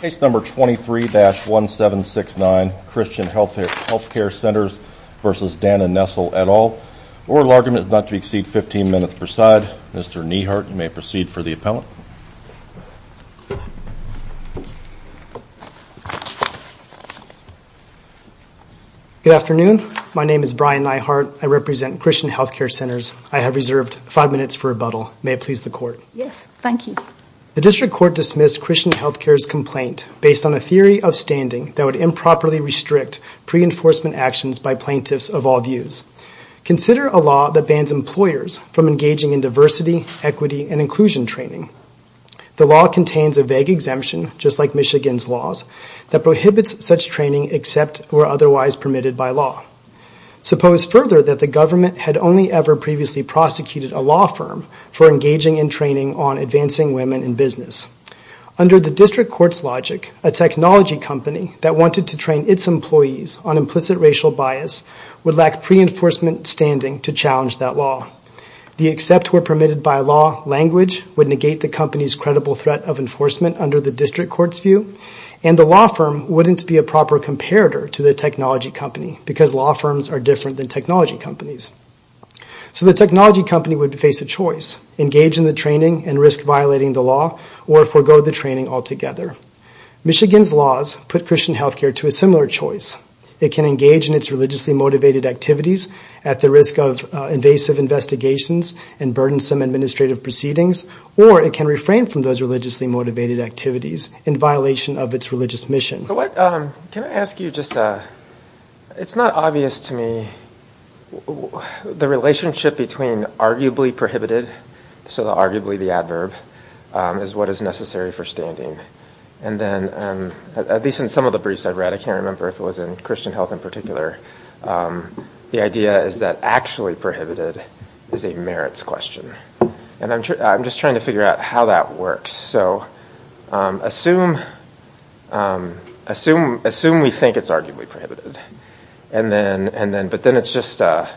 Case number 23-1769, Christian Healthcare Centers v. Dana Nessel et al. Oral argument is not to exceed 15 minutes per side. Mr. Neihardt, you may proceed for the appellant. Good afternoon. My name is Brian Neihardt. I represent Christian Healthcare Centers. I have reserved 5 minutes for rebuttal. May it please the court. Yes, thank you. The district court dismissed Christian Healthcare's complaint based on a theory of standing that would improperly restrict pre-enforcement actions by plaintiffs of all views. Consider a law that bans employers from engaging in diversity, equity, and inclusion training. The law contains a vague exemption, just like Michigan's laws, that prohibits such training except where otherwise permitted by law. Suppose further that the government had only ever previously prosecuted a law firm for engaging in training on advancing women in business. Under the district court's logic, a technology company that wanted to train its employees on implicit racial bias would lack pre-enforcement standing to challenge that law. The except where permitted by law language would negate the company's credible threat of enforcement under the district court's view, and the law firm wouldn't be a proper comparator to the technology company because law firms are different than technology companies. So the technology company would face a choice, engage in the training and risk violating the law or forego the training altogether. Michigan's laws put Christian Healthcare to a similar choice. It can engage in its religiously motivated activities at the risk of invasive investigations and burdensome administrative proceedings, or it can refrain from those religiously motivated activities in violation of its religious mission. Can I ask you just a... It's not obvious to me the relationship between arguably prohibited, so arguably the adverb, is what is necessary for standing. And then, at least in some of the briefs I've read, I can't remember if it was in Christian Health in particular, the idea is that actually prohibited is a merits question. And I'm just trying to figure out how that works. So assume we think it's arguably prohibited, but then it's just a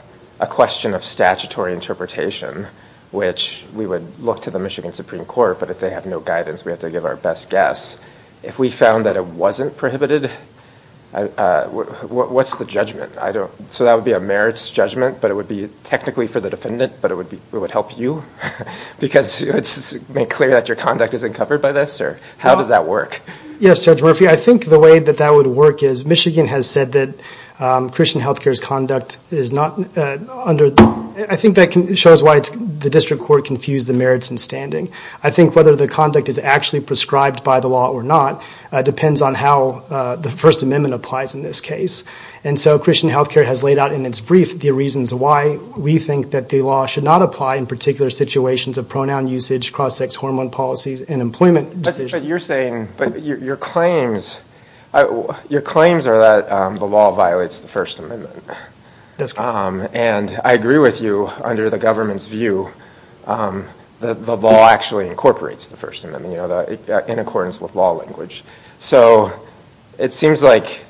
question of statutory interpretation, which we would look to the Michigan Supreme Court, but if they have no guidance we have to give our best guess. If we found that it wasn't prohibited, what's the judgment? So that would be a merits judgment, but it would be technically for the defendant, but it would help you? Because it's made clear that your conduct isn't covered by this? How does that work? Yes, Judge Murphy, I think the way that that would work is, Michigan has said that Christian Health Care's conduct is not under... I think that shows why the district court confused the merits and standing. I think whether the conduct is actually prescribed by the law or not depends on how the First Amendment applies in this case. And so Christian Health Care has laid out in its brief the reasons why we think that the law should not apply in particular situations of pronoun usage, cross-sex hormone policies, and employment decisions. But you're saying your claims are that the law violates the First Amendment. That's correct. And I agree with you, under the government's view, the law actually incorporates the First Amendment in accordance with law language. So it seems like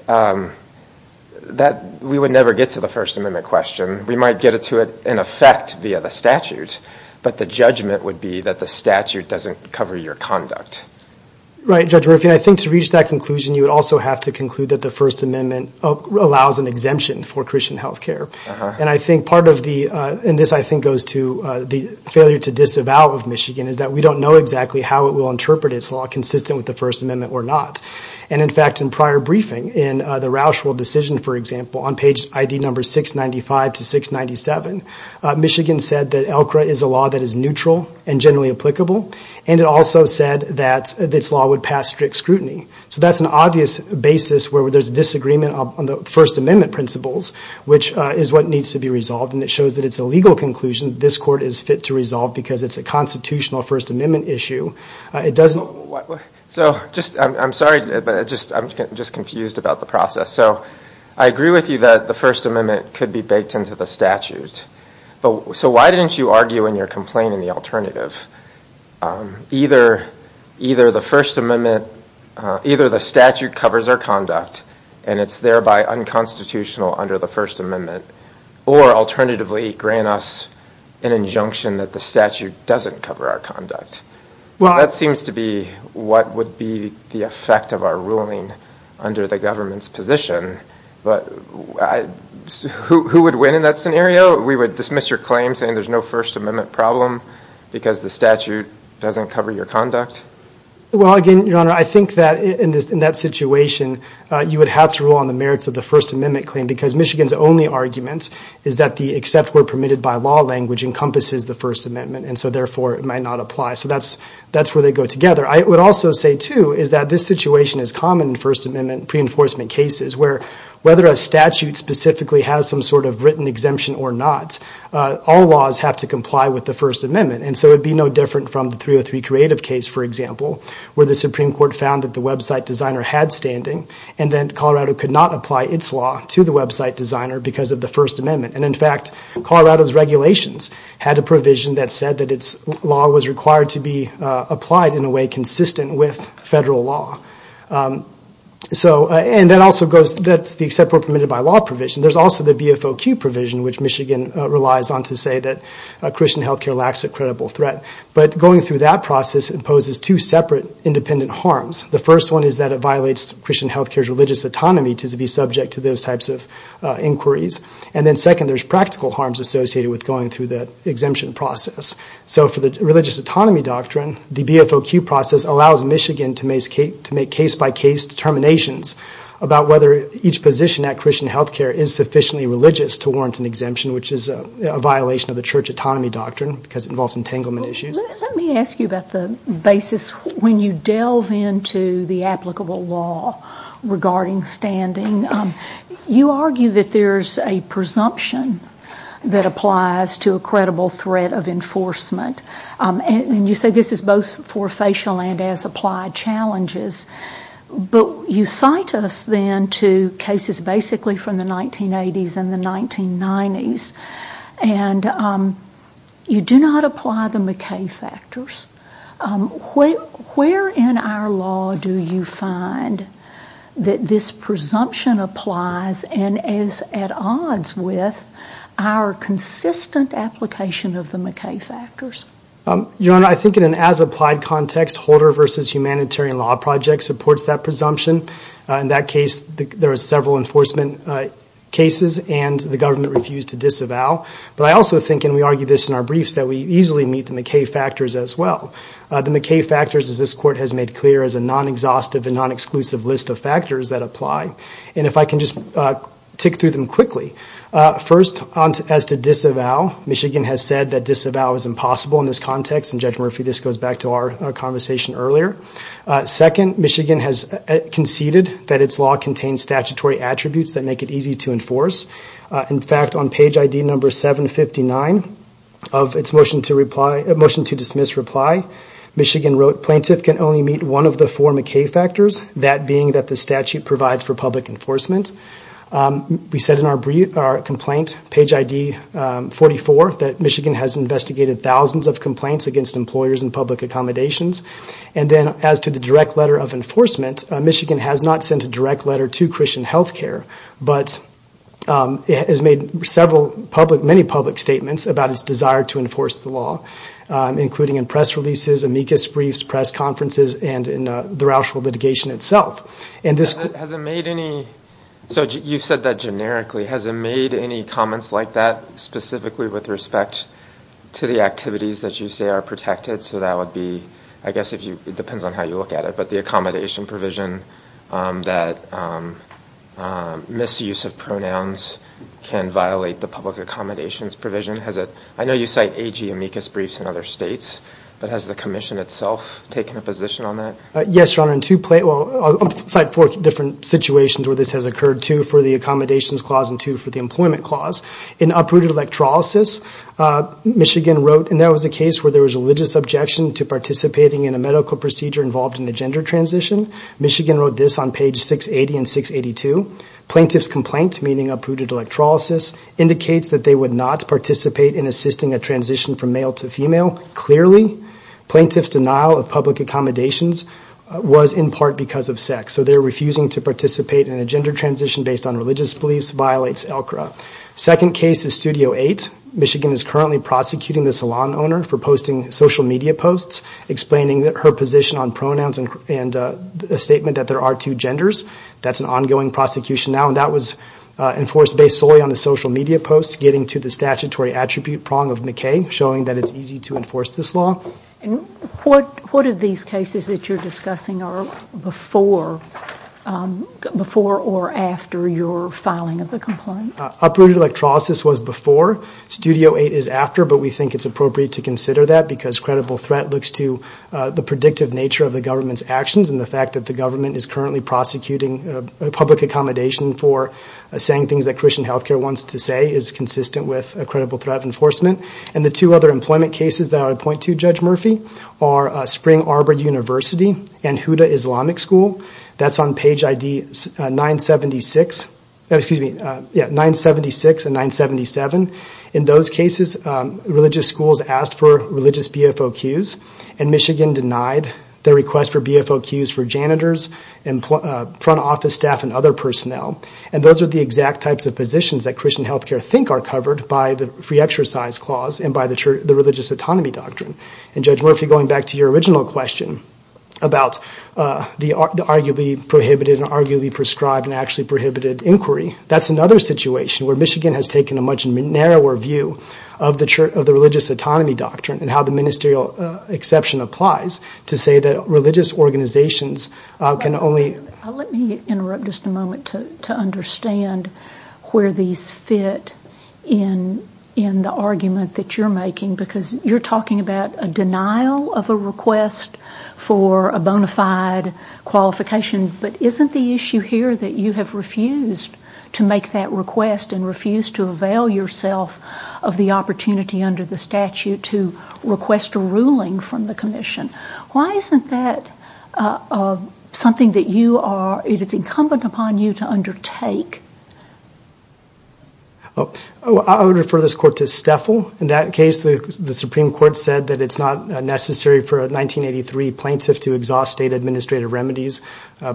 we would never get to the First Amendment question. We might get to it in effect via the statute, but the judgment would be that the statute doesn't cover your conduct. Right, Judge Murphy, and I think to reach that conclusion, you would also have to conclude that the First Amendment allows an exemption for Christian Health Care. And I think part of the, and this I think goes to the failure to disavow of Michigan, is that we don't know exactly how it will interpret its law and whether it's consistent with the First Amendment or not. And, in fact, in prior briefing, in the Roushwell decision, for example, on page ID number 695 to 697, Michigan said that ELCRA is a law that is neutral and generally applicable, and it also said that this law would pass strict scrutiny. So that's an obvious basis where there's disagreement on the First Amendment principles, which is what needs to be resolved, and it shows that it's a legal conclusion that this court is fit to resolve because it's a constitutional First Amendment issue. So just, I'm sorry, but I'm just confused about the process. So I agree with you that the First Amendment could be baked into the statute, but so why didn't you argue in your complaint in the alternative? Either the First Amendment, either the statute covers our conduct and it's thereby unconstitutional under the First Amendment, or alternatively grant us an injunction that the statute doesn't cover our conduct. That seems to be what would be the effect of our ruling under the government's position, but who would win in that scenario? We would dismiss your claim saying there's no First Amendment problem because the statute doesn't cover your conduct? Well, again, Your Honor, I think that in that situation you would have to rule on the merits of the First Amendment claim because Michigan's only argument is that the except where permitted by law language encompasses the First Amendment, and so therefore it might not apply. So that's where they go together. I would also say, too, is that this situation is common in First Amendment pre-enforcement cases where whether a statute specifically has some sort of written exemption or not, all laws have to comply with the First Amendment. And so it would be no different from the 303 Creative case, for example, where the Supreme Court found that the website designer had standing and then Colorado could not apply its law to the website designer because of the First Amendment. And, in fact, Colorado's regulations had a provision that said that its law was required to be applied in a way consistent with federal law. And that's the except where permitted by law provision. There's also the BFOQ provision, which Michigan relies on to say that Christian health care lacks a credible threat. But going through that process imposes two separate independent harms. The first one is that it violates Christian health care's religious autonomy to be subject to those types of inquiries. And then, second, there's practical harms associated with going through the exemption process. So for the religious autonomy doctrine, the BFOQ process allows Michigan to make case-by-case determinations about whether each position at Christian health care is sufficiently religious to warrant an exemption, which is a violation of the church autonomy doctrine because it involves entanglement issues. Let me ask you about the basis when you delve into the applicable law regarding standing. You argue that there's a presumption that applies to a credible threat of enforcement. And you say this is both for facial and as applied challenges. But you cite us then to cases basically from the 1980s and the 1990s. And you do not apply the McKay factors. Where in our law do you find that this presumption applies and is at odds with our consistent application of the McKay factors? Your Honor, I think in an as applied context, Holder v. Humanitarian Law Project supports that presumption. In that case, there are several enforcement cases, and the government refused to disavow. But I also think, and we argue this in our briefs, that we easily meet the McKay factors as well. The McKay factors, as this Court has made clear, is a non-exhaustive and non-exclusive list of factors that apply. And if I can just tick through them quickly. First, as to disavow, Michigan has said that disavow is impossible in this context. And, Judge Murphy, this goes back to our conversation earlier. Second, Michigan has conceded that its law contains statutory attributes that make it easy to enforce. In fact, on page ID number 759 of its motion to dismiss reply, Michigan wrote, Plaintiff can only meet one of the four McKay factors, that being that the statute provides for public enforcement. We said in our complaint, page ID 44, that Michigan has investigated thousands of complaints against employers and public accommodations. And then, as to the direct letter of enforcement, Michigan has not sent a direct letter to Christian Health Care. But it has made several public, many public statements about its desire to enforce the law, including in press releases, amicus briefs, press conferences, and in the Roushville litigation itself. And this- Has it made any, so you've said that generically, has it made any comments like that, specifically with respect to the activities that you say are protected? So that would be, I guess if you, it depends on how you look at it, but the accommodation provision that misuse of pronouns can violate the public accommodations provision. Has it, I know you cite AG amicus briefs in other states, but has the commission itself taken a position on that? Yes, Your Honor, in two, well, I'll cite four different situations where this has occurred, two for the accommodations clause and two for the employment clause. In uprooted electrolysis, Michigan wrote, and that was a case where there was religious objection to participating in a medical procedure involved in a gender transition. Michigan wrote this on page 680 and 682. Plaintiff's complaint, meaning uprooted electrolysis, indicates that they would not participate in assisting a transition from male to female. Clearly, plaintiff's denial of public accommodations was in part because of sex. So they're refusing to participate in a gender transition based on religious beliefs violates ELCRA. Second case is Studio 8. Michigan is currently prosecuting the salon owner for posting social media posts, explaining her position on pronouns and a statement that there are two genders. That's an ongoing prosecution now, and that was enforced based solely on the social media posts, getting to the statutory attribute prong of McKay, showing that it's easy to enforce this law. What of these cases that you're discussing are before or after your filing of the complaint? Uprooted electrolysis was before. Studio 8 is after, but we think it's appropriate to consider that because credible threat looks to the predictive nature of the government's actions and the fact that the government is currently prosecuting public accommodation for saying things that Christian Health Care wants to say is consistent with a credible threat enforcement. The two other employment cases that I would point to, Judge Murphy, are Spring Arbor University and Huda Islamic School. That's on page 976 and 977. In those cases, religious schools asked for religious BFOQs, and Michigan denied their request for BFOQs for janitors, front office staff, and other personnel. And those are the exact types of positions that Christian Health Care think are covered by the Free Exercise Clause and by the Religious Autonomy Doctrine. And, Judge Murphy, going back to your original question about the arguably prohibited and arguably prescribed and actually prohibited inquiry, that's another situation where Michigan has taken a much narrower view of the Religious Autonomy Doctrine and how the ministerial exception applies to say that religious organizations can only... to understand where these fit in the argument that you're making, because you're talking about a denial of a request for a bona fide qualification, but isn't the issue here that you have refused to make that request and refused to avail yourself of the opportunity under the statute to request a ruling from the commission? Why isn't that something that you are... it is incumbent upon you to undertake? I would refer this Court to Stefel. In that case, the Supreme Court said that it's not necessary for a 1983 plaintiff to exhaust state administrative remedies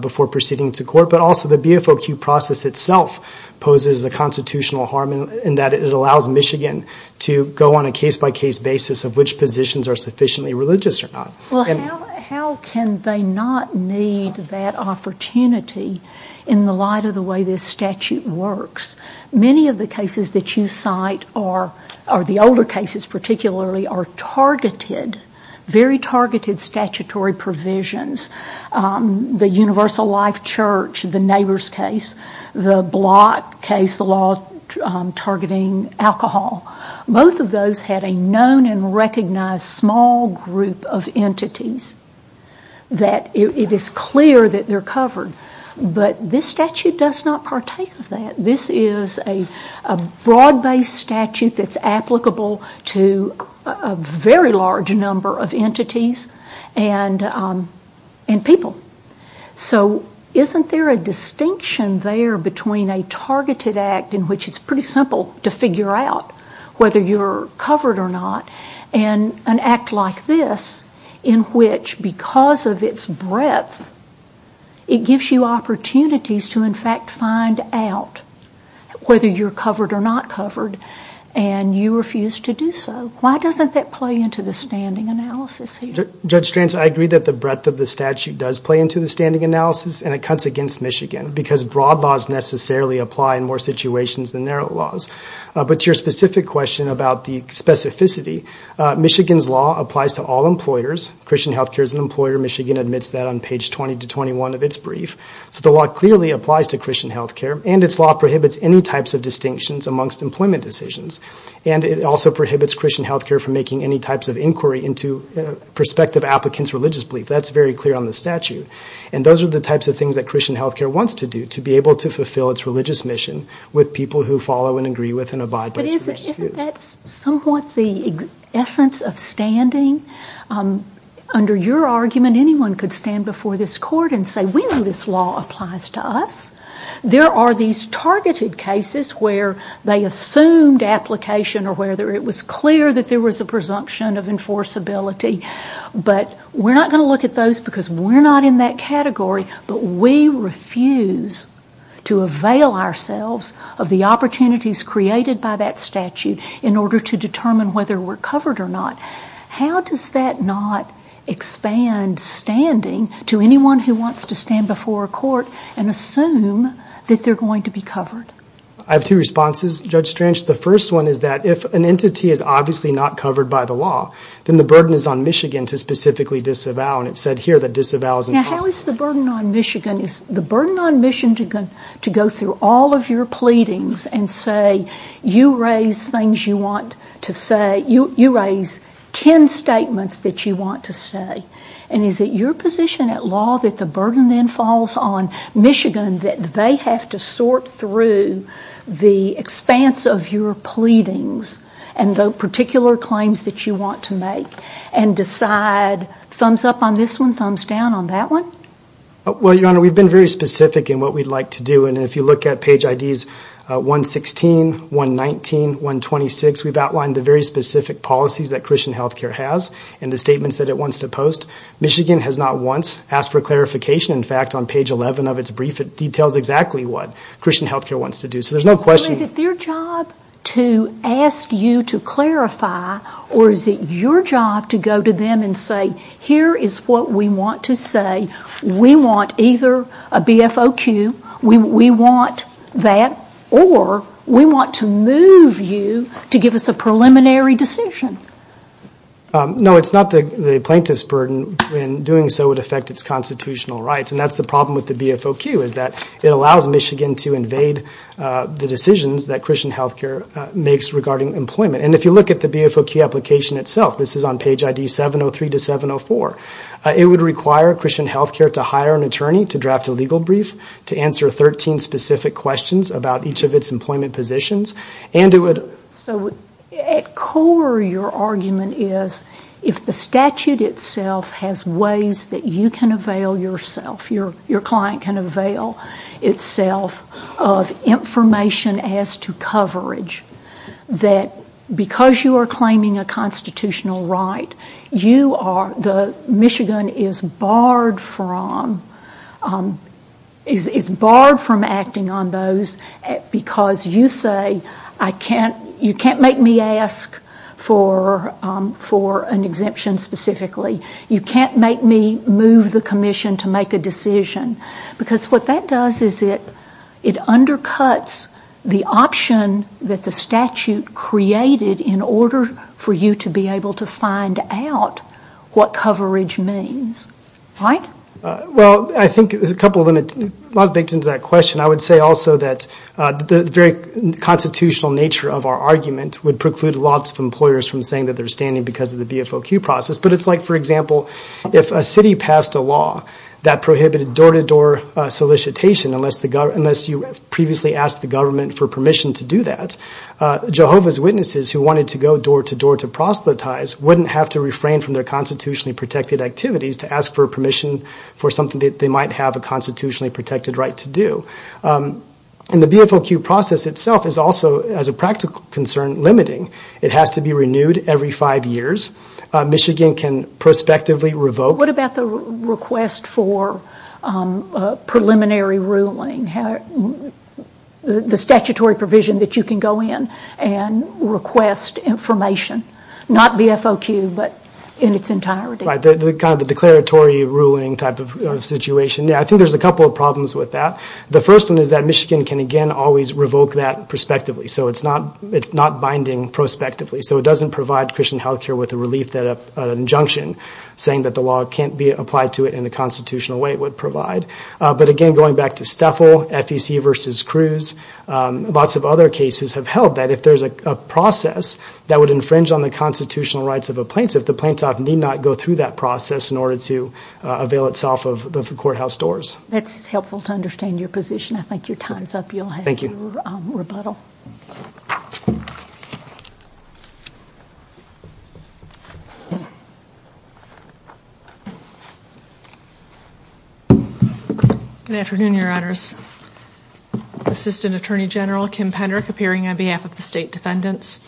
before proceeding to court, but also the BFOQ process itself poses a constitutional harm in that it allows Michigan to go on a case-by-case basis of which positions are sufficiently religious or not. Well, how can they not need that opportunity in the light of the way this statute works? Many of the cases that you cite, or the older cases particularly, are targeted, very targeted statutory provisions. The Universal Life Church, the Neighbors case, the Block case, the law targeting alcohol, both of those had a known and recognized small group of entities that it is clear that they're covered, but this statute does not partake of that. This is a broad-based statute that's applicable to a very large number of entities, and people. So isn't there a distinction there between a targeted act in which it's pretty simple to figure out whether you're covered or not, and an act like this in which, because of its breadth, it gives you opportunities to, in fact, find out whether you're covered or not covered, and you refuse to do so. Why doesn't that play into the standing analysis here? Judge Strantz, I agree that the breadth of the statute does play into the standing analysis, and it cuts against Michigan because broad laws necessarily apply in more situations than narrow laws. But to your specific question about the specificity, Michigan's law applies to all employers. Christian Health Care is an employer. Michigan admits that on page 20 to 21 of its brief. So the law clearly applies to Christian Health Care, and its law prohibits any types of distinctions amongst employment decisions, and it also prohibits Christian Health Care from making any types of inquiry into prospective applicants' religious belief. That's very clear on the statute. And those are the types of things that Christian Health Care wants to do, to be able to fulfill its religious mission with people who follow and agree with and abide by its religious views. But isn't that somewhat the essence of standing? Under your argument, anyone could stand before this court and say, we know this law applies to us. There are these targeted cases where they assumed application or where it was clear that there was a presumption of enforceability, but we're not going to look at those because we're not in that category, but we refuse to avail ourselves of the opportunities created by that statute in order to determine whether we're covered or not. How does that not expand standing to anyone who wants to stand before a court and assume that they're going to be covered? I have two responses, Judge Strange. The first one is that if an entity is obviously not covered by the law, then the burden is on Michigan to specifically disavow, and it's said here that disavow is impossible. Now, how is the burden on Michigan? Is the burden on Michigan to go through all of your pleadings and say, you raise things you want to say, you raise ten statements that you want to say, and is it your position at law that the burden then falls on Michigan that they have to sort through the expanse of your pleadings and the particular claims that you want to make and decide thumbs up on this one, thumbs down on that one? Well, Your Honor, we've been very specific in what we'd like to do, and if you look at page IDs 116, 119, 126, we've outlined the very specific policies that Christian Healthcare has and the statements that it wants to post. Michigan has not once asked for clarification. In fact, on page 11 of its brief, it details exactly what Christian Healthcare wants to do. So there's no question. Is it their job to ask you to clarify, or is it your job to go to them and say, here is what we want to say. We want either a BFOQ, we want that, or we want to move you to give us a preliminary decision. No, it's not the plaintiff's burden. In doing so, it would affect its constitutional rights, and that's the problem with the BFOQ, is that it allows Michigan to invade the decisions that Christian Healthcare makes regarding employment. And if you look at the BFOQ application itself, this is on page ID 703 to 704, it would require Christian Healthcare to hire an attorney to draft a legal brief to answer 13 specific questions about each of its employment positions. So at core, your argument is, if the statute itself has ways that you can avail yourself, your client can avail itself of information as to coverage, that because you are claiming a constitutional right, Michigan is barred from acting on those because you say, you can't make me ask for an exemption specifically. You can't make me move the commission to make a decision. Because what that does is it undercuts the option that the statute created in order for you to be able to find out what coverage means. Right? Well, I think there's a couple of limits. I would say also that the very constitutional nature of our argument would preclude lots of employers from saying that they're standing because of the BFOQ process. But it's like, for example, if a city passed a law that prohibited door-to-door solicitation, unless you previously asked the government for permission to do that, Jehovah's Witnesses who wanted to go door-to-door to proselytize wouldn't have to refrain from their constitutionally protected activities to ask for permission for something that they might have a constitutionally protected right to do. And the BFOQ process itself is also, as a practical concern, limiting. It has to be renewed every five years. Michigan can prospectively revoke. What about the request for preliminary ruling? The statutory provision that you can go in and request information, not BFOQ but in its entirety? Right, kind of the declaratory ruling type of situation. Yeah, I think there's a couple of problems with that. The first one is that Michigan can, again, always revoke that prospectively. So it's not binding prospectively. So it doesn't provide Christian Health Care with a relief, an injunction, saying that the law can't be applied to it in the constitutional way it would provide. But again, going back to STEFL, FEC versus Cruz, lots of other cases have held that if there's a process that would infringe on the constitutional rights of a plaintiff, that the plaintiff need not go through that process in order to avail itself of the courthouse doors. That's helpful to understand your position. I think your time's up. Thank you. You'll have your rebuttal. Good afternoon, Your Honors. Assistant Attorney General Kim Penderick appearing on behalf of the State Defendants.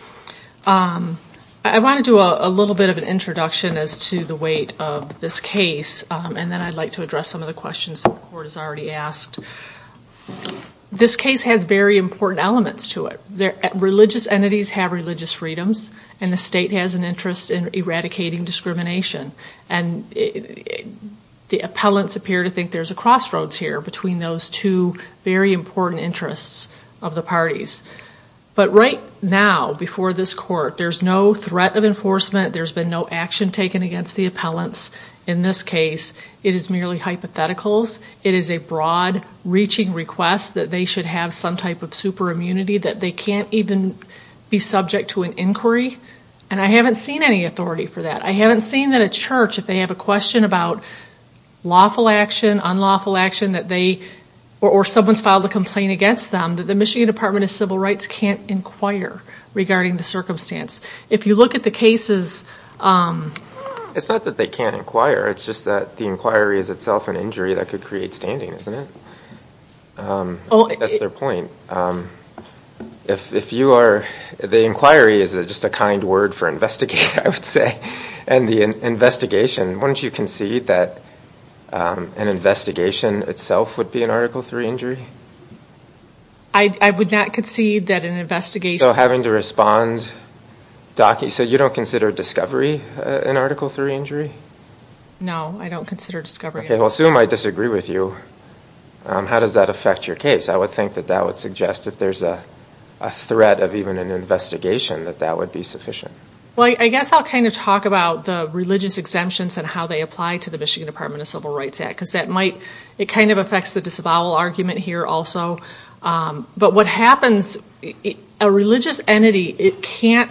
I want to do a little bit of an introduction as to the weight of this case, and then I'd like to address some of the questions that the Court has already asked. This case has very important elements to it. Religious entities have religious freedoms, and the state has an interest in eradicating discrimination. And the appellants appear to think there's a crossroads here between those two very important interests of the parties. But right now, before this Court, there's no threat of enforcement. There's been no action taken against the appellants in this case. It is merely hypotheticals. It is a broad-reaching request that they should have some type of superimmunity, that they can't even be subject to an inquiry. And I haven't seen any authority for that. I haven't seen that a church, if they have a question about lawful action, unlawful action, or someone's filed a complaint against them, that the Michigan Department of Civil Rights can't inquire regarding the circumstance. If you look at the cases... It's not that they can't inquire. It's just that the inquiry is itself an injury that could create standing, isn't it? That's their point. The inquiry is just a kind word for investigation, I would say. And the investigation. Wouldn't you concede that an investigation itself would be an Article III injury? I would not concede that an investigation... So having to respond... So you don't consider discovery an Article III injury? No, I don't consider discovery... Okay, well, assume I disagree with you. How does that affect your case? I would think that that would suggest if there's a threat of even an investigation, that that would be sufficient. Well, I guess I'll kind of talk about the religious exemptions and how they apply to the Michigan Department of Civil Rights Act. Because that might... It kind of affects the disavowal argument here also. But what happens... A religious entity, it can't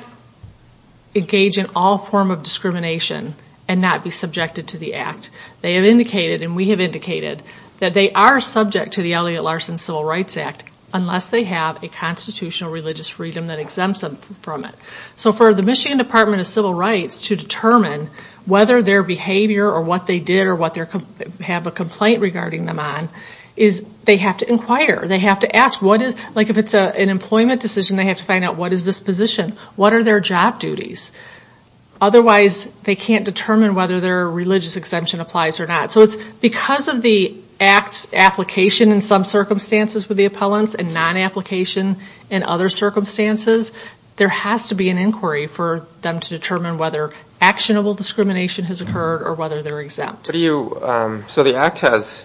engage in all form of discrimination and not be subjected to the Act. They have indicated, and we have indicated, that they are subject to the Elliott Larson Civil Rights Act unless they have a constitutional religious freedom that exempts them from it. So for the Michigan Department of Civil Rights to determine whether their behavior, or what they did, or what they have a complaint regarding them on, is they have to inquire. They have to ask, like if it's an employment decision, they have to find out, what is this position? What are their job duties? Otherwise, they can't determine whether their religious exemption applies or not. So it's because of the Act's application in some circumstances with the appellants and non-application in other circumstances, there has to be an inquiry for them to determine whether actionable discrimination has occurred or whether they're exempt. So the Act has...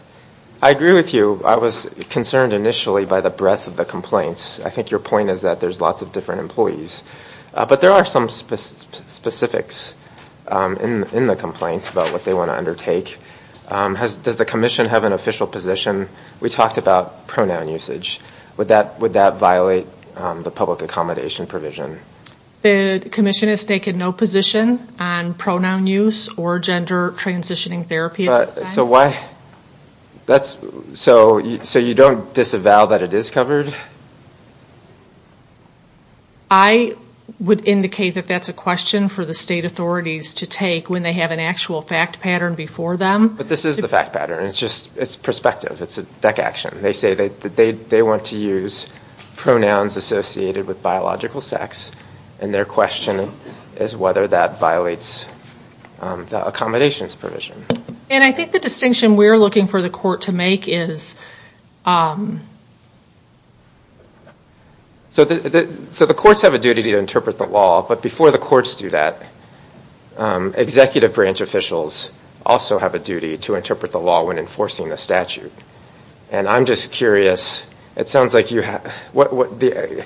I agree with you. I was concerned initially by the breadth of the complaints. I think your point is that there's lots of different employees. But there are some specifics in the complaints about what they want to undertake. Does the Commission have an official position? We talked about pronoun usage. Would that violate the public accommodation provision? The Commission is taking no position on pronoun use or gender transitioning therapy. So why? So you don't disavow that it is covered? I would indicate that that's a question for the state authorities to take when they have an actual fact pattern before them. But this is the fact pattern. It's perspective. It's a deck action. They say that they want to use pronouns associated with biological sex, and their question is whether that violates the accommodations provision. And I think the distinction we're looking for the court to make is... So the courts have a duty to interpret the law, but before the courts do that, executive branch officials also have a duty to interpret the law when enforcing the statute. And I'm just curious. It sounds like you have... The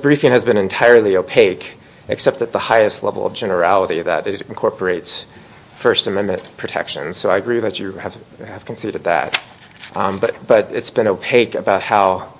briefing has been entirely opaque, except at the highest level of generality that it incorporates First Amendment protections. So I agree that you have conceded that. But it's been opaque about how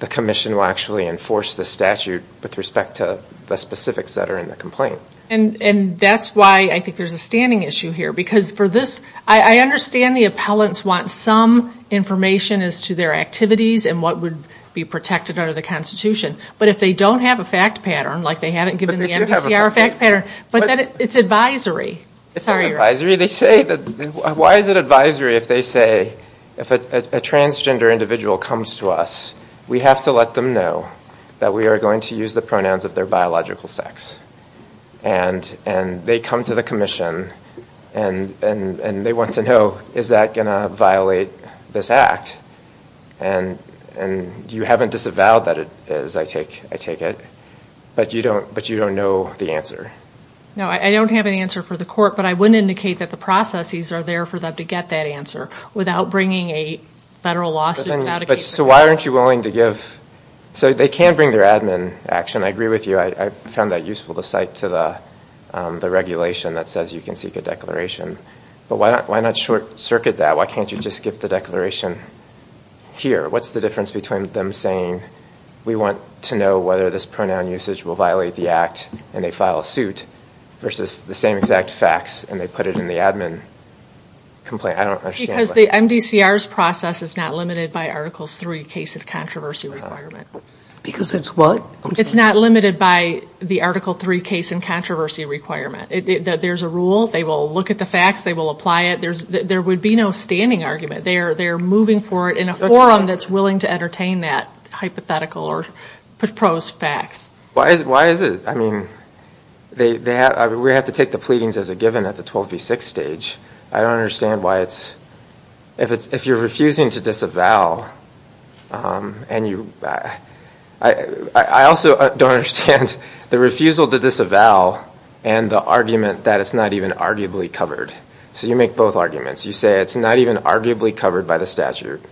the Commission will actually enforce the statute with respect to the specifics that are in the complaint. And that's why I think there's a standing issue here. Because for this, I understand the appellants want some information as to their activities and what would be protected under the Constitution. But if they don't have a fact pattern, like they haven't given the MDCR a fact pattern, but then it's advisory. It's not advisory. They say that... Why is it advisory if they say, if a transgender individual comes to us, we have to let them know that we are going to use the pronouns of their biological sex. And they come to the Commission and they want to know, is that going to violate this act? And you haven't disavowed that it is, I take it. But you don't know the answer. No, I don't have an answer for the court. But I would indicate that the processes are there for them to get that answer without bringing a federal lawsuit. So why aren't you willing to give... So they can bring their admin action. I agree with you. I found that useful to cite to the regulation that says you can seek a But why not short-circuit that? Why can't you just give the declaration here? What's the difference between them saying, we want to know whether this pronoun usage will violate the act, and they file a suit, versus the same exact facts, and they put it in the admin complaint? I don't understand. Because the MDCR's process is not limited by Articles 3, case of controversy requirement. Because it's what? It's not limited by the Article 3, case of controversy requirement. There's a rule. They will look at the facts. They will apply it. There would be no standing argument. They're moving forward in a forum that's willing to entertain that hypothetical or proposed facts. Why is it? I mean, we have to take the pleadings as a given at the 12v6 stage. I don't understand why it's... If you're refusing to disavow, and you... I also don't understand the refusal to disavow, and the argument that it's not even arguably covered. So you make both arguments. You say it's not even arguably covered by the statute,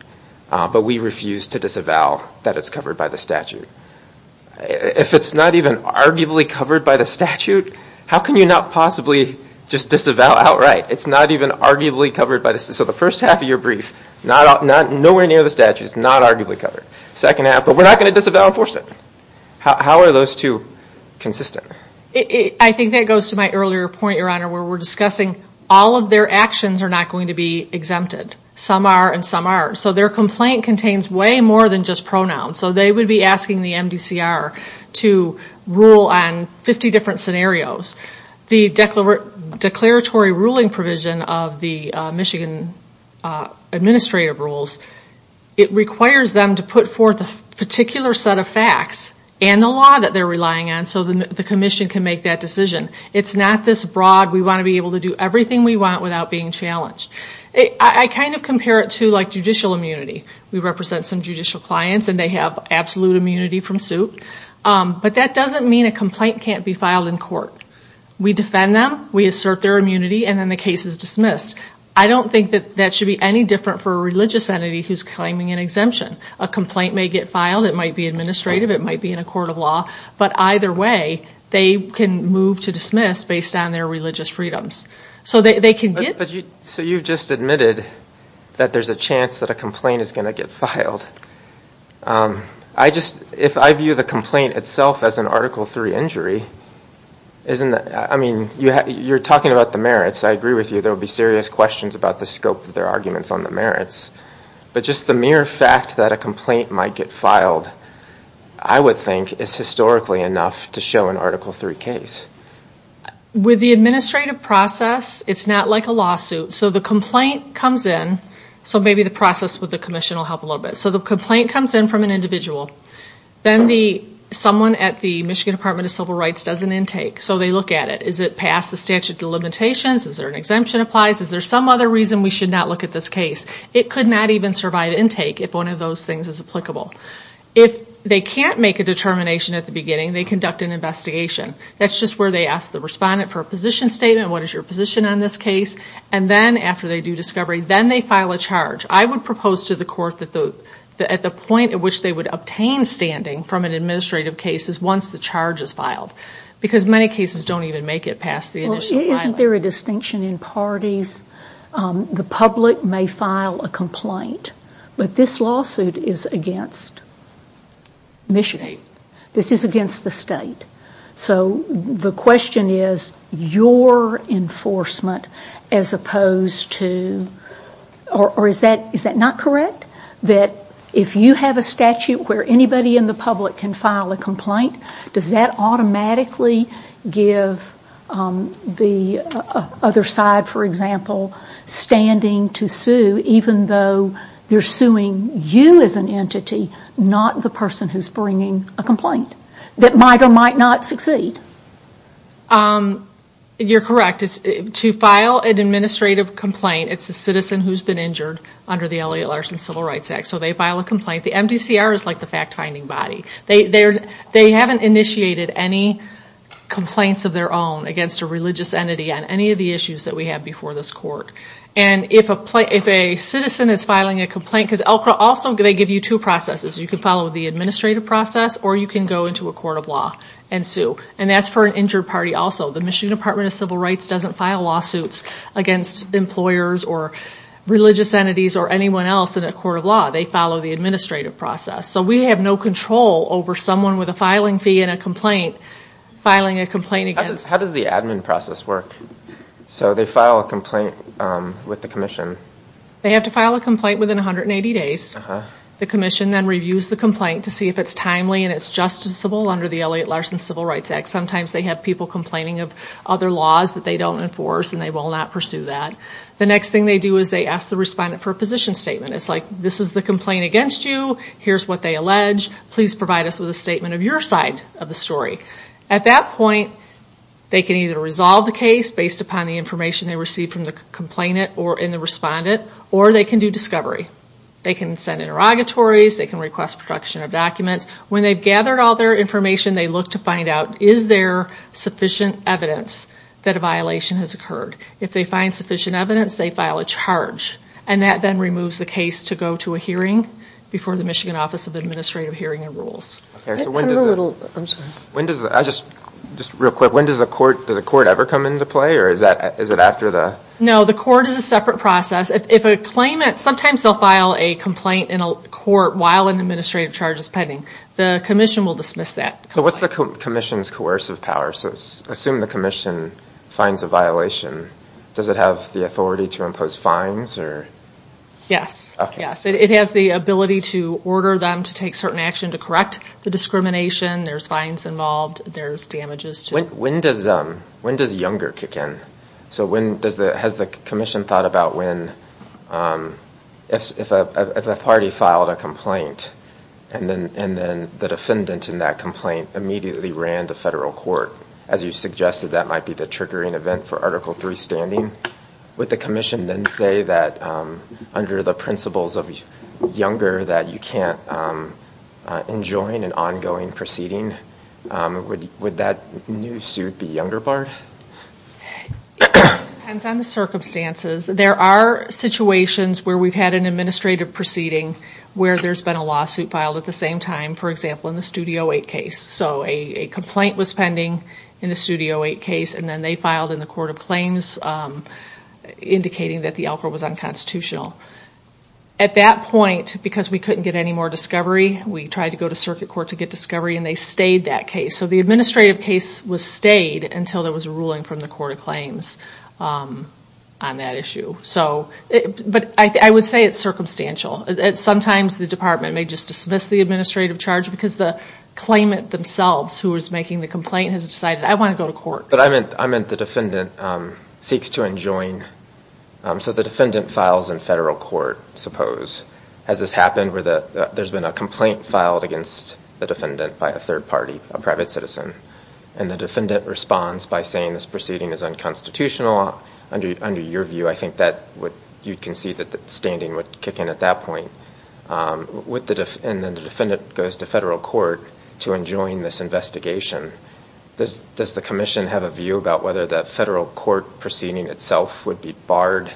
but we refuse to disavow that it's covered by the statute. If it's not even arguably covered by the statute, how can you not possibly just disavow outright? It's not even arguably covered by the statute. So the first half of your brief, nowhere near the statute, it's not arguably covered. Second half, but we're not going to disavow enforcement. How are those two consistent? I think that goes to my earlier point, Your Honor, where we're discussing all of their actions are not going to be exempted. Some are and some aren't. So their complaint contains way more than just pronouns. So they would be asking the MDCR to rule on 50 different scenarios. The declaratory ruling provision of the Michigan administrative rules, it requires them to put forth a particular set of facts and the law that they're relying on so the commission can make that decision. It's not this broad, we want to be able to do everything we want without being challenged. I kind of compare it to, like, judicial immunity. We represent some judicial clients, and they have absolute immunity from suit. But that doesn't mean a complaint can't be filed in court. We defend them, we assert their immunity, and then the case is dismissed. I don't think that that should be any different for a religious entity who's claiming an exemption. A complaint may get filed, it might be administrative, it might be in a court of law, but either way, they can move to dismiss based on their religious freedoms. So they can get... So you've just admitted that there's a chance that a complaint is going to get filed. If I view the complaint itself as an Article III injury, you're talking about the merits, I agree with you, there will be serious questions about the scope of their arguments on the merits. But just the mere fact that a complaint might get filed, I would think is historically enough to show an Article III case. With the administrative process, it's not like a lawsuit. So the complaint comes in, so maybe the process with the commission will help a little bit. So the complaint comes in from an individual. Then someone at the Michigan Department of Civil Rights does an intake. So they look at it. Is it past the statute of limitations? Is there an exemption applies? Is there some other reason we should not look at this case? It could not even survive intake if one of those things is applicable. If they can't make a determination at the beginning, they conduct an investigation. That's just where they ask the respondent for a position statement, what is your position on this case? And then after they do discovery, then they file a charge. I would propose to the court that at the point at which they would obtain standing from an administrative case is once the charge is filed. Because many cases don't even make it past the initial filing. Isn't there a distinction in parties? The public may file a complaint, but this lawsuit is against Michigan. This is against the state. So the question is your enforcement as opposed to, or is that not correct, that if you have a statute where anybody in the public can file a complaint, does that automatically give the other side, for example, standing to sue even though they're suing you as an entity, not the person who's bringing a complaint that might or might not succeed? You're correct. To file an administrative complaint, it's a citizen who's been injured under the Elliot Larson Civil Rights Act. So they file a complaint. The MDCR is like the fact-finding body. They haven't initiated any complaints of their own against a religious entity on any of the issues that we have before this court. And if a citizen is filing a complaint, because also they give you two processes. You can follow the administrative process or you can go into a court of law and sue. And that's for an injured party also. The Michigan Department of Civil Rights doesn't file lawsuits against employers or religious entities or anyone else in a court of law. They follow the administrative process. So we have no control over someone with a filing fee and a complaint filing a complaint against. How does the admin process work? So they file a complaint with the commission. They have to file a complaint within 180 days. The commission then reviews the complaint to see if it's timely and it's justiciable under the Elliot Larson Civil Rights Act. Sometimes they have people complaining of other laws that they don't enforce and they will not pursue that. The next thing they do is they ask the respondent for a position statement. It's like this is the complaint against you. Here's what they allege. Please provide us with a statement of your side of the story. At that point, they can either resolve the case based upon the information they received from the complainant or in the respondent, or they can do discovery. They can send interrogatories. They can request production of documents. When they've gathered all their information, they look to find out is there sufficient evidence that a violation has occurred. If they find sufficient evidence, they file a charge. And that then removes the case to go to a hearing before the Michigan Office of Administrative Hearing and Rules. When does the court ever come into play? No, the court is a separate process. Sometimes they'll file a complaint in a court while an administrative charge is pending. The commission will dismiss that. What's the commission's coercive power? Assume the commission finds a violation. Does it have the authority to impose fines? Yes. It has the ability to order them to take certain action to correct the discrimination. There's fines involved. There's damages, too. When does Younger kick in? Has the commission thought about if a party filed a complaint and then the defendant in that complaint immediately ran to federal court? As you suggested, that might be the triggering event for Article III standing. Would the commission then say that under the principles of Younger that you can't enjoin an ongoing proceeding? Would that new suit be Younger barred? It depends on the circumstances. There are situations where we've had an administrative proceeding where there's been a lawsuit filed at the same time, for example, in the Studio 8 case. So a complaint was pending in the Studio 8 case, and then they filed in the Court of Claims, indicating that the offer was unconstitutional. At that point, because we couldn't get any more discovery, we tried to go to circuit court to get discovery, and they stayed that case. So the administrative case was stayed until there was a ruling from the Court of Claims on that issue. But I would say it's circumstantial. Sometimes the department may just dismiss the administrative charge because the claimant themselves who is making the complaint has decided, I want to go to court. But I meant the defendant seeks to enjoin. So the defendant files in federal court, suppose. Has this happened where there's been a complaint filed against the defendant by a third party, a private citizen, and the defendant responds by saying this proceeding is unconstitutional? Under your view, I think you can see that the standing would kick in at that point. And then the defendant goes to federal court to enjoin this investigation. Does the commission have a view about whether the federal court proceeding itself would be barred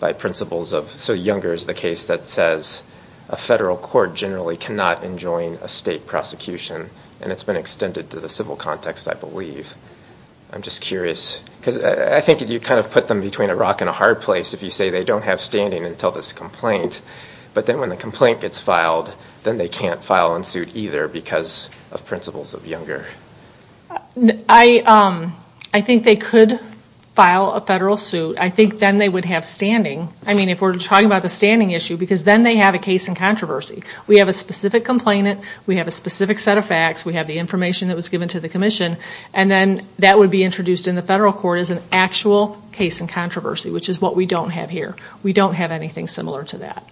by principles of so Younger is the case that says a federal court generally cannot enjoin a state prosecution, and it's been extended to the civil context, I believe. I'm just curious, because I think you kind of put them between a rock and a hard place if you say they don't have standing until this complaint. But then when the complaint gets filed, then they can't file in suit either because of principles of Younger. I think they could file a federal suit. I think then they would have standing. I mean, if we're talking about the standing issue, because then they have a case in controversy. We have a specific complainant. We have a specific set of facts. We have the information that was given to the commission. And then that would be introduced in the federal court as an actual case in controversy, which is what we don't have here. We don't have anything similar to that.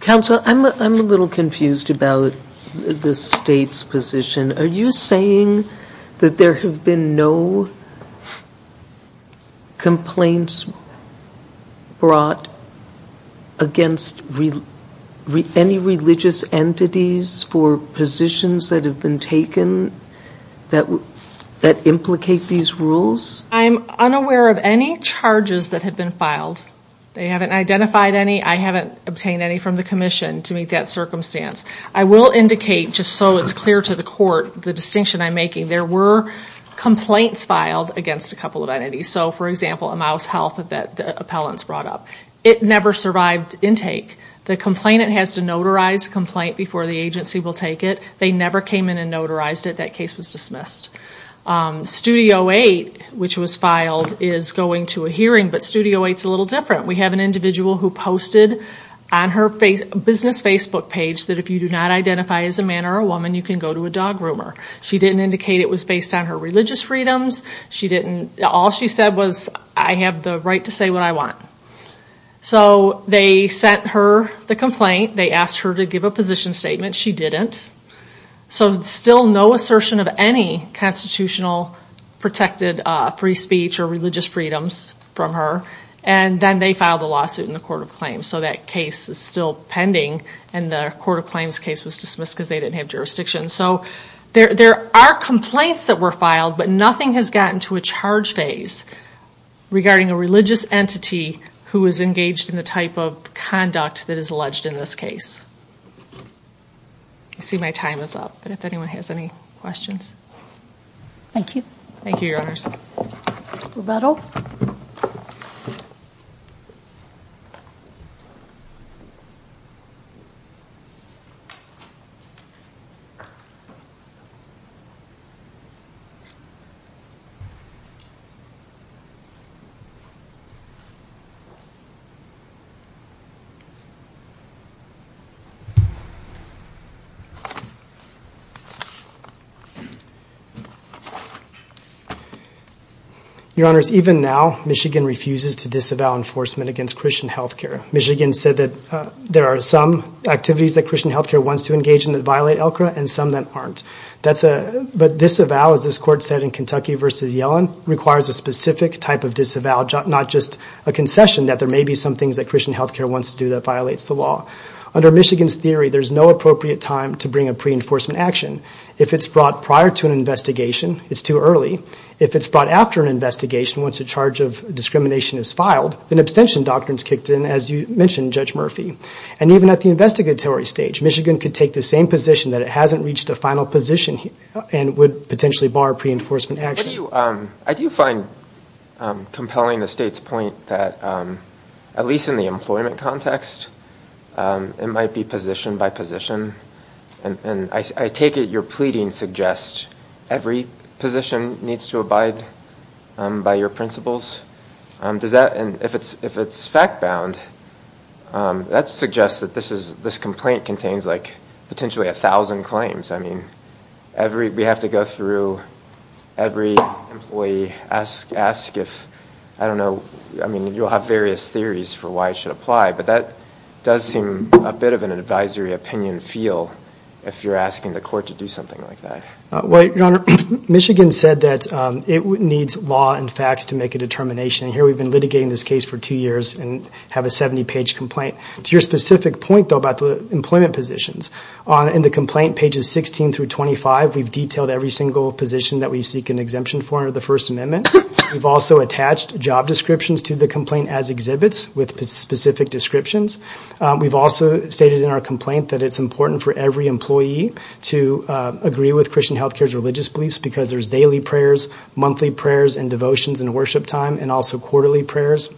Counsel, I'm a little confused about the state's position. Are you saying that there have been no complaints brought against any religious entities for positions that have been taken that implicate these rules? I'm unaware of any charges that have been filed. They haven't identified any. I haven't obtained any from the commission to meet that circumstance. I will indicate, just so it's clear to the court, the distinction I'm making. There were complaints filed against a couple of entities. So, for example, a mouse health that the appellants brought up. It never survived intake. The complainant has to notarize a complaint before the agency will take it. They never came in and notarized it. That case was dismissed. Studio 8, which was filed, is going to a hearing. But Studio 8 is a little different. We have an individual who posted on her business Facebook page that if you do not identify as a man or a woman, you can go to a dog groomer. She didn't indicate it was based on her religious freedoms. All she said was, I have the right to say what I want. So they sent her the complaint. They asked her to give a position statement. She didn't. So still no assertion of any constitutional protected free speech or religious freedoms from her. And then they filed a lawsuit in the court of claims. So that case is still pending. And the court of claims case was dismissed because they didn't have jurisdiction. So there are complaints that were filed, but nothing has gotten to a charge phase regarding a religious entity who is engaged in the type of conduct that is alleged in this case. I see my time is up. But if anyone has any questions. Thank you. Thank you, Your Honors. Rebuttal. Your Honors, even now, Michigan refuses to disavow enforcement against Christian health care. Michigan said that there are some activities that Christian health care wants to engage in that violate LCRA and some that aren't. But disavow, as this court said in Kentucky v. Yellen, requires a specific type of disavow, not just a concession that there may be some things that Christian health care wants to do that violates the law. Under Michigan's theory, there's no appropriate time to bring a pre-enforcement action. If it's brought prior to an investigation, it's too early. If it's brought after an investigation, once a charge of discrimination is filed, then abstention doctrines kicked in, as you mentioned, Judge Murphy. And even at the investigatory stage, Michigan could take the same position that it hasn't reached a final position and would potentially bar pre-enforcement action. I do find compelling the State's point that, at least in the employment context, it might be position by position. And I take it your pleading suggests every position needs to abide by your principles. If it's fact-bound, that suggests that this complaint contains potentially 1,000 claims. We have to go through every employee, ask if, I don't know, you'll have various theories for why it should apply, but that does seem a bit of an advisory opinion feel if you're asking the court to do something like that. Well, Your Honor, Michigan said that it needs law and facts to make a determination. Here we've been litigating this case for two years and have a 70-page complaint. To your specific point, though, about the employment positions, in the complaint, pages 16 through 25, we've detailed every single position that we seek an exemption for under the First Amendment. We've also attached job descriptions to the complaint as exhibits with specific descriptions. We've also stated in our complaint that it's important for every employee to agree with Christian Health Care's religious beliefs because there's daily prayers, monthly prayers and devotions and worship time, and also quarterly prayers,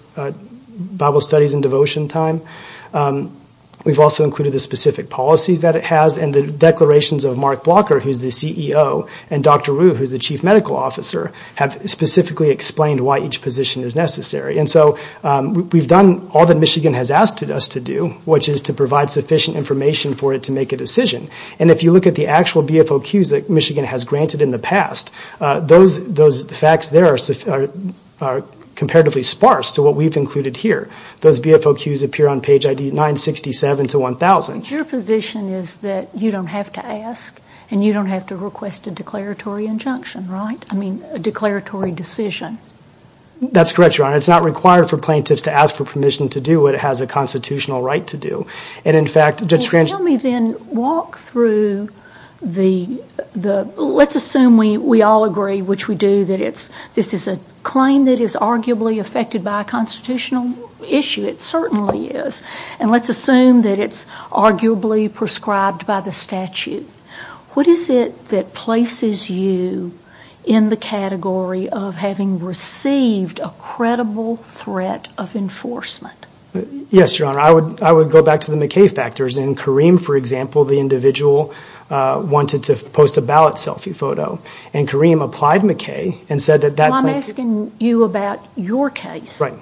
Bible studies and devotion time. We've also included the specific policies that it has, and the declarations of Mark Blocker, who's the CEO, and Dr. Wu, who's the Chief Medical Officer, have specifically explained why each position is necessary. And so we've done all that Michigan has asked us to do, which is to provide sufficient information for it to make a decision. And if you look at the actual BFOQs that Michigan has granted in the past, those facts there are comparatively sparse to what we've included here. Those BFOQs appear on page 967 to 1000. Your position is that you don't have to ask and you don't have to request a declaratory injunction, right? I mean, a declaratory decision. That's correct, Your Honor. It's not required for plaintiffs to ask for permission to do what it has a constitutional right to do. And, in fact, Judge Grange... Well, tell me then, walk through the... Let's assume we all agree, which we do, that this is a claim that is arguably affected by a constitutional issue. It certainly is. And let's assume that it's arguably prescribed by the statute. What is it that places you in the category of having received a credible threat of enforcement? Yes, Your Honor. I would go back to the McKay factors. In Kareem, for example, the individual wanted to post a ballot selfie photo. And Kareem applied McKay and said that... I'm asking you about your case. Right.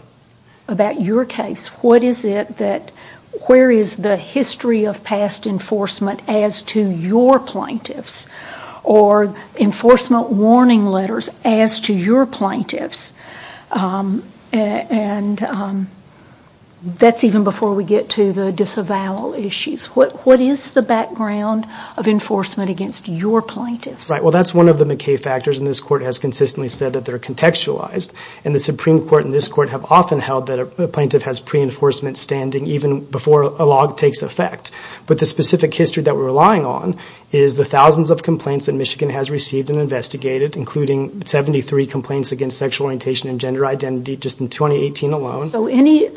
About your case. What is it that... Where is the history of past enforcement as to your plaintiffs? Or enforcement warning letters as to your plaintiffs? And that's even before we get to the disavowal issues. What is the background of enforcement against your plaintiffs? Right. Well, that's one of the McKay factors. And this Court has consistently said that they're contextualized. And the Supreme Court and this Court have often held that a plaintiff has pre-enforcement standing even before a log takes effect. But the specific history that we're relying on is the thousands of complaints that Michigan has received and investigated, including 73 complaints against sexual orientation and gender identity just in 2018 alone.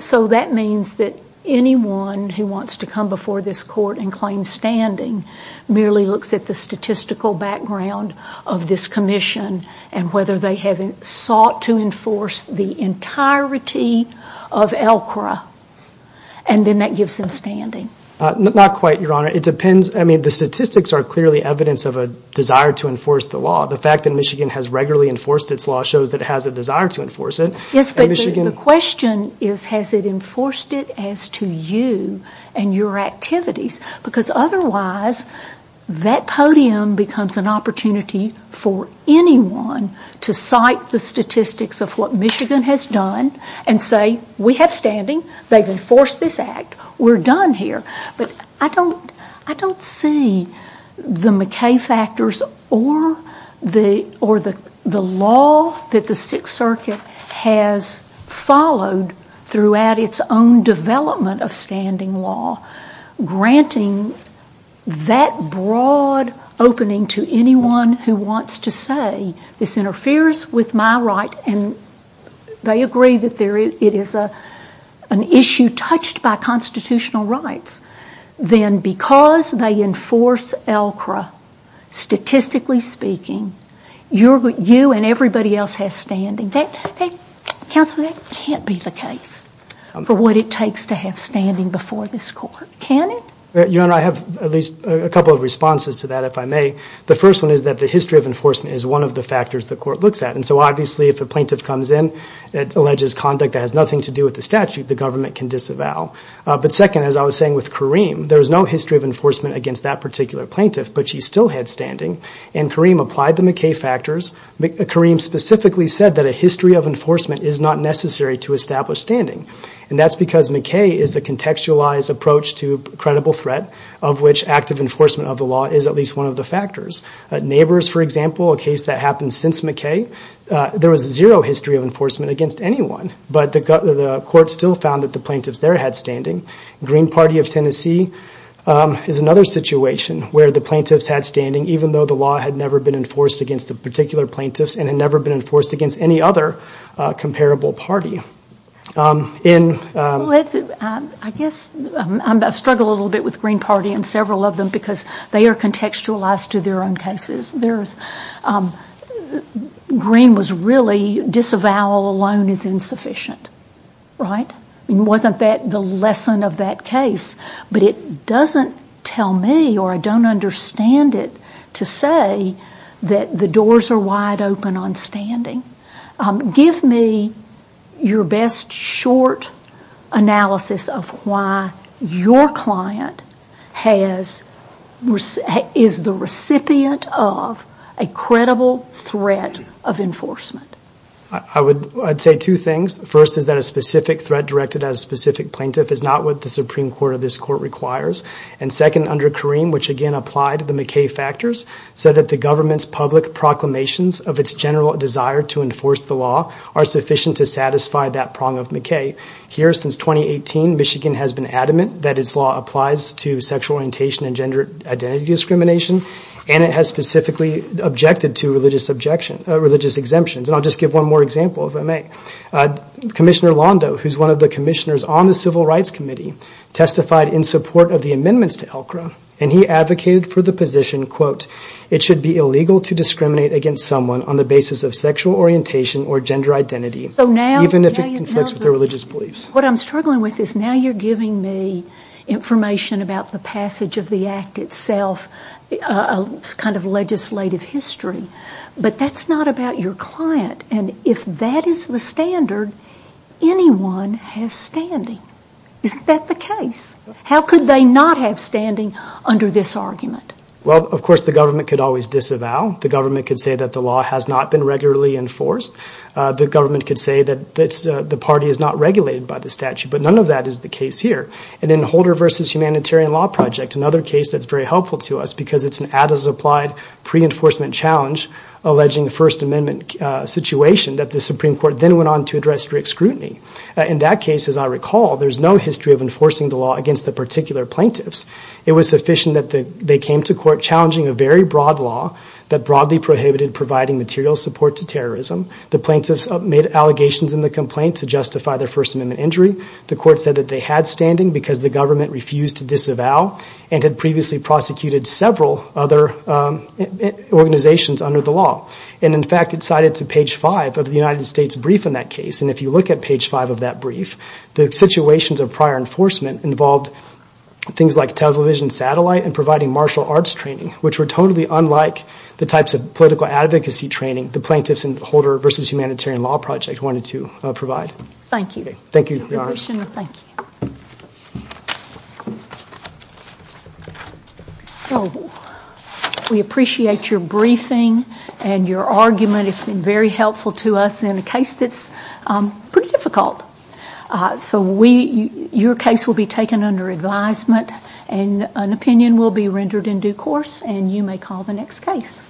So that means that anyone who wants to come before this Court and claim standing merely looks at the statistical background of this commission and whether they have sought to enforce the entirety of ELCRA. And then that gives them standing. Not quite, Your Honor. It depends. I mean, the statistics are clearly evidence of a desire to enforce the law. The fact that Michigan has regularly enforced its law shows that it has a desire to enforce it. Yes, but the question is, has it enforced it as to you and your activities? Because otherwise, that podium becomes an opportunity for anyone to cite the statistics of what Michigan has done and say, we have standing, they've enforced this act, we're done here. But I don't see the McKay factors or the law that the Sixth Circuit has followed throughout its own development of standing law granting that broad opening to anyone who wants to say, this interferes with my right, and they agree that it is an issue touched by constitutional rights, then because they enforce ELCRA, statistically speaking, you and everybody else have standing. Counsel, that can't be the case for what it takes to have standing before this Court. Can it? Your Honor, I have at least a couple of responses to that, if I may. The first one is that the history of enforcement is one of the factors the Court looks at. And so obviously, if a plaintiff comes in and alleges conduct that has nothing to do with the statute, the government can disavow. But second, as I was saying with Kareem, there is no history of enforcement against that particular plaintiff, but she still had standing. And Kareem applied the McKay factors. Kareem specifically said that a history of enforcement is not necessary to establish standing, and that's because McKay is a contextualized approach to credible threat, of which active enforcement of the law is at least one of the factors. Neighbors, for example, a case that happened since McKay, there was zero history of enforcement against anyone, but the Court still found that the plaintiffs there had standing. Green Party of Tennessee is another situation where the plaintiffs had standing, even though the law had never been enforced against the particular plaintiffs and had never been enforced against any other comparable party. I guess I struggle a little bit with Green Party and several of them because they are contextualized to their own cases. Green was really disavowal alone is insufficient, right? It wasn't the lesson of that case. But it doesn't tell me or I don't understand it to say that the doors are wide open on standing. Give me your best short analysis of why your client is the recipient of a credible threat of enforcement. I'd say two things. First is that a specific threat directed at a specific plaintiff is not what the Supreme Court of this Court requires. Second, under Kareem, which again applied the McKay factors, said that the government's public proclamations of its general desire to enforce the law are sufficient to satisfy that prong of McKay. Here, since 2018, Michigan has been adamant that its law applies to sexual orientation and gender identity discrimination and it has specifically objected to religious exemptions. And I'll just give one more example, if I may. Commissioner Londo, who's one of the commissioners on the Civil Rights Committee, testified in support of the amendments to ELCRA and he advocated for the position, quote, it should be illegal to discriminate against someone on the basis of sexual orientation or gender identity, even if it conflicts with their religious beliefs. What I'm struggling with is now you're giving me information about the passage of the act itself, kind of legislative history, but that's not about your client. And if that is the standard, anyone has standing. Isn't that the case? How could they not have standing under this argument? Well, of course, the government could always disavow. The government could say that the law has not been regularly enforced. The government could say that the party is not regulated by the statute. But none of that is the case here. And in Holder v. Humanitarian Law Project, another case that's very helpful to us because it's an ad as applied pre-enforcement challenge alleging a First Amendment situation, that the Supreme Court then went on to address strict scrutiny. In that case, as I recall, there's no history of enforcing the law against the particular plaintiffs. It was sufficient that they came to court challenging a very broad law that broadly prohibited providing material support to terrorism. The plaintiffs made allegations in the complaint to justify their First Amendment injury. The court said that they had standing because the government refused to disavow and had previously prosecuted several other organizations under the law. And, in fact, it's cited to page 5 of the United States brief in that case. And if you look at page 5 of that brief, the situations of prior enforcement involved things like television satellite and providing martial arts training, which were totally unlike the types of political advocacy training the plaintiffs in Holder v. Humanitarian Law Project wanted to provide. Thank you. Thank you, Your Honor. We appreciate your briefing and your argument. It's been very helpful to us in a case that's pretty difficult. So your case will be taken under advisement and an opinion will be rendered in due course and you may call the next case.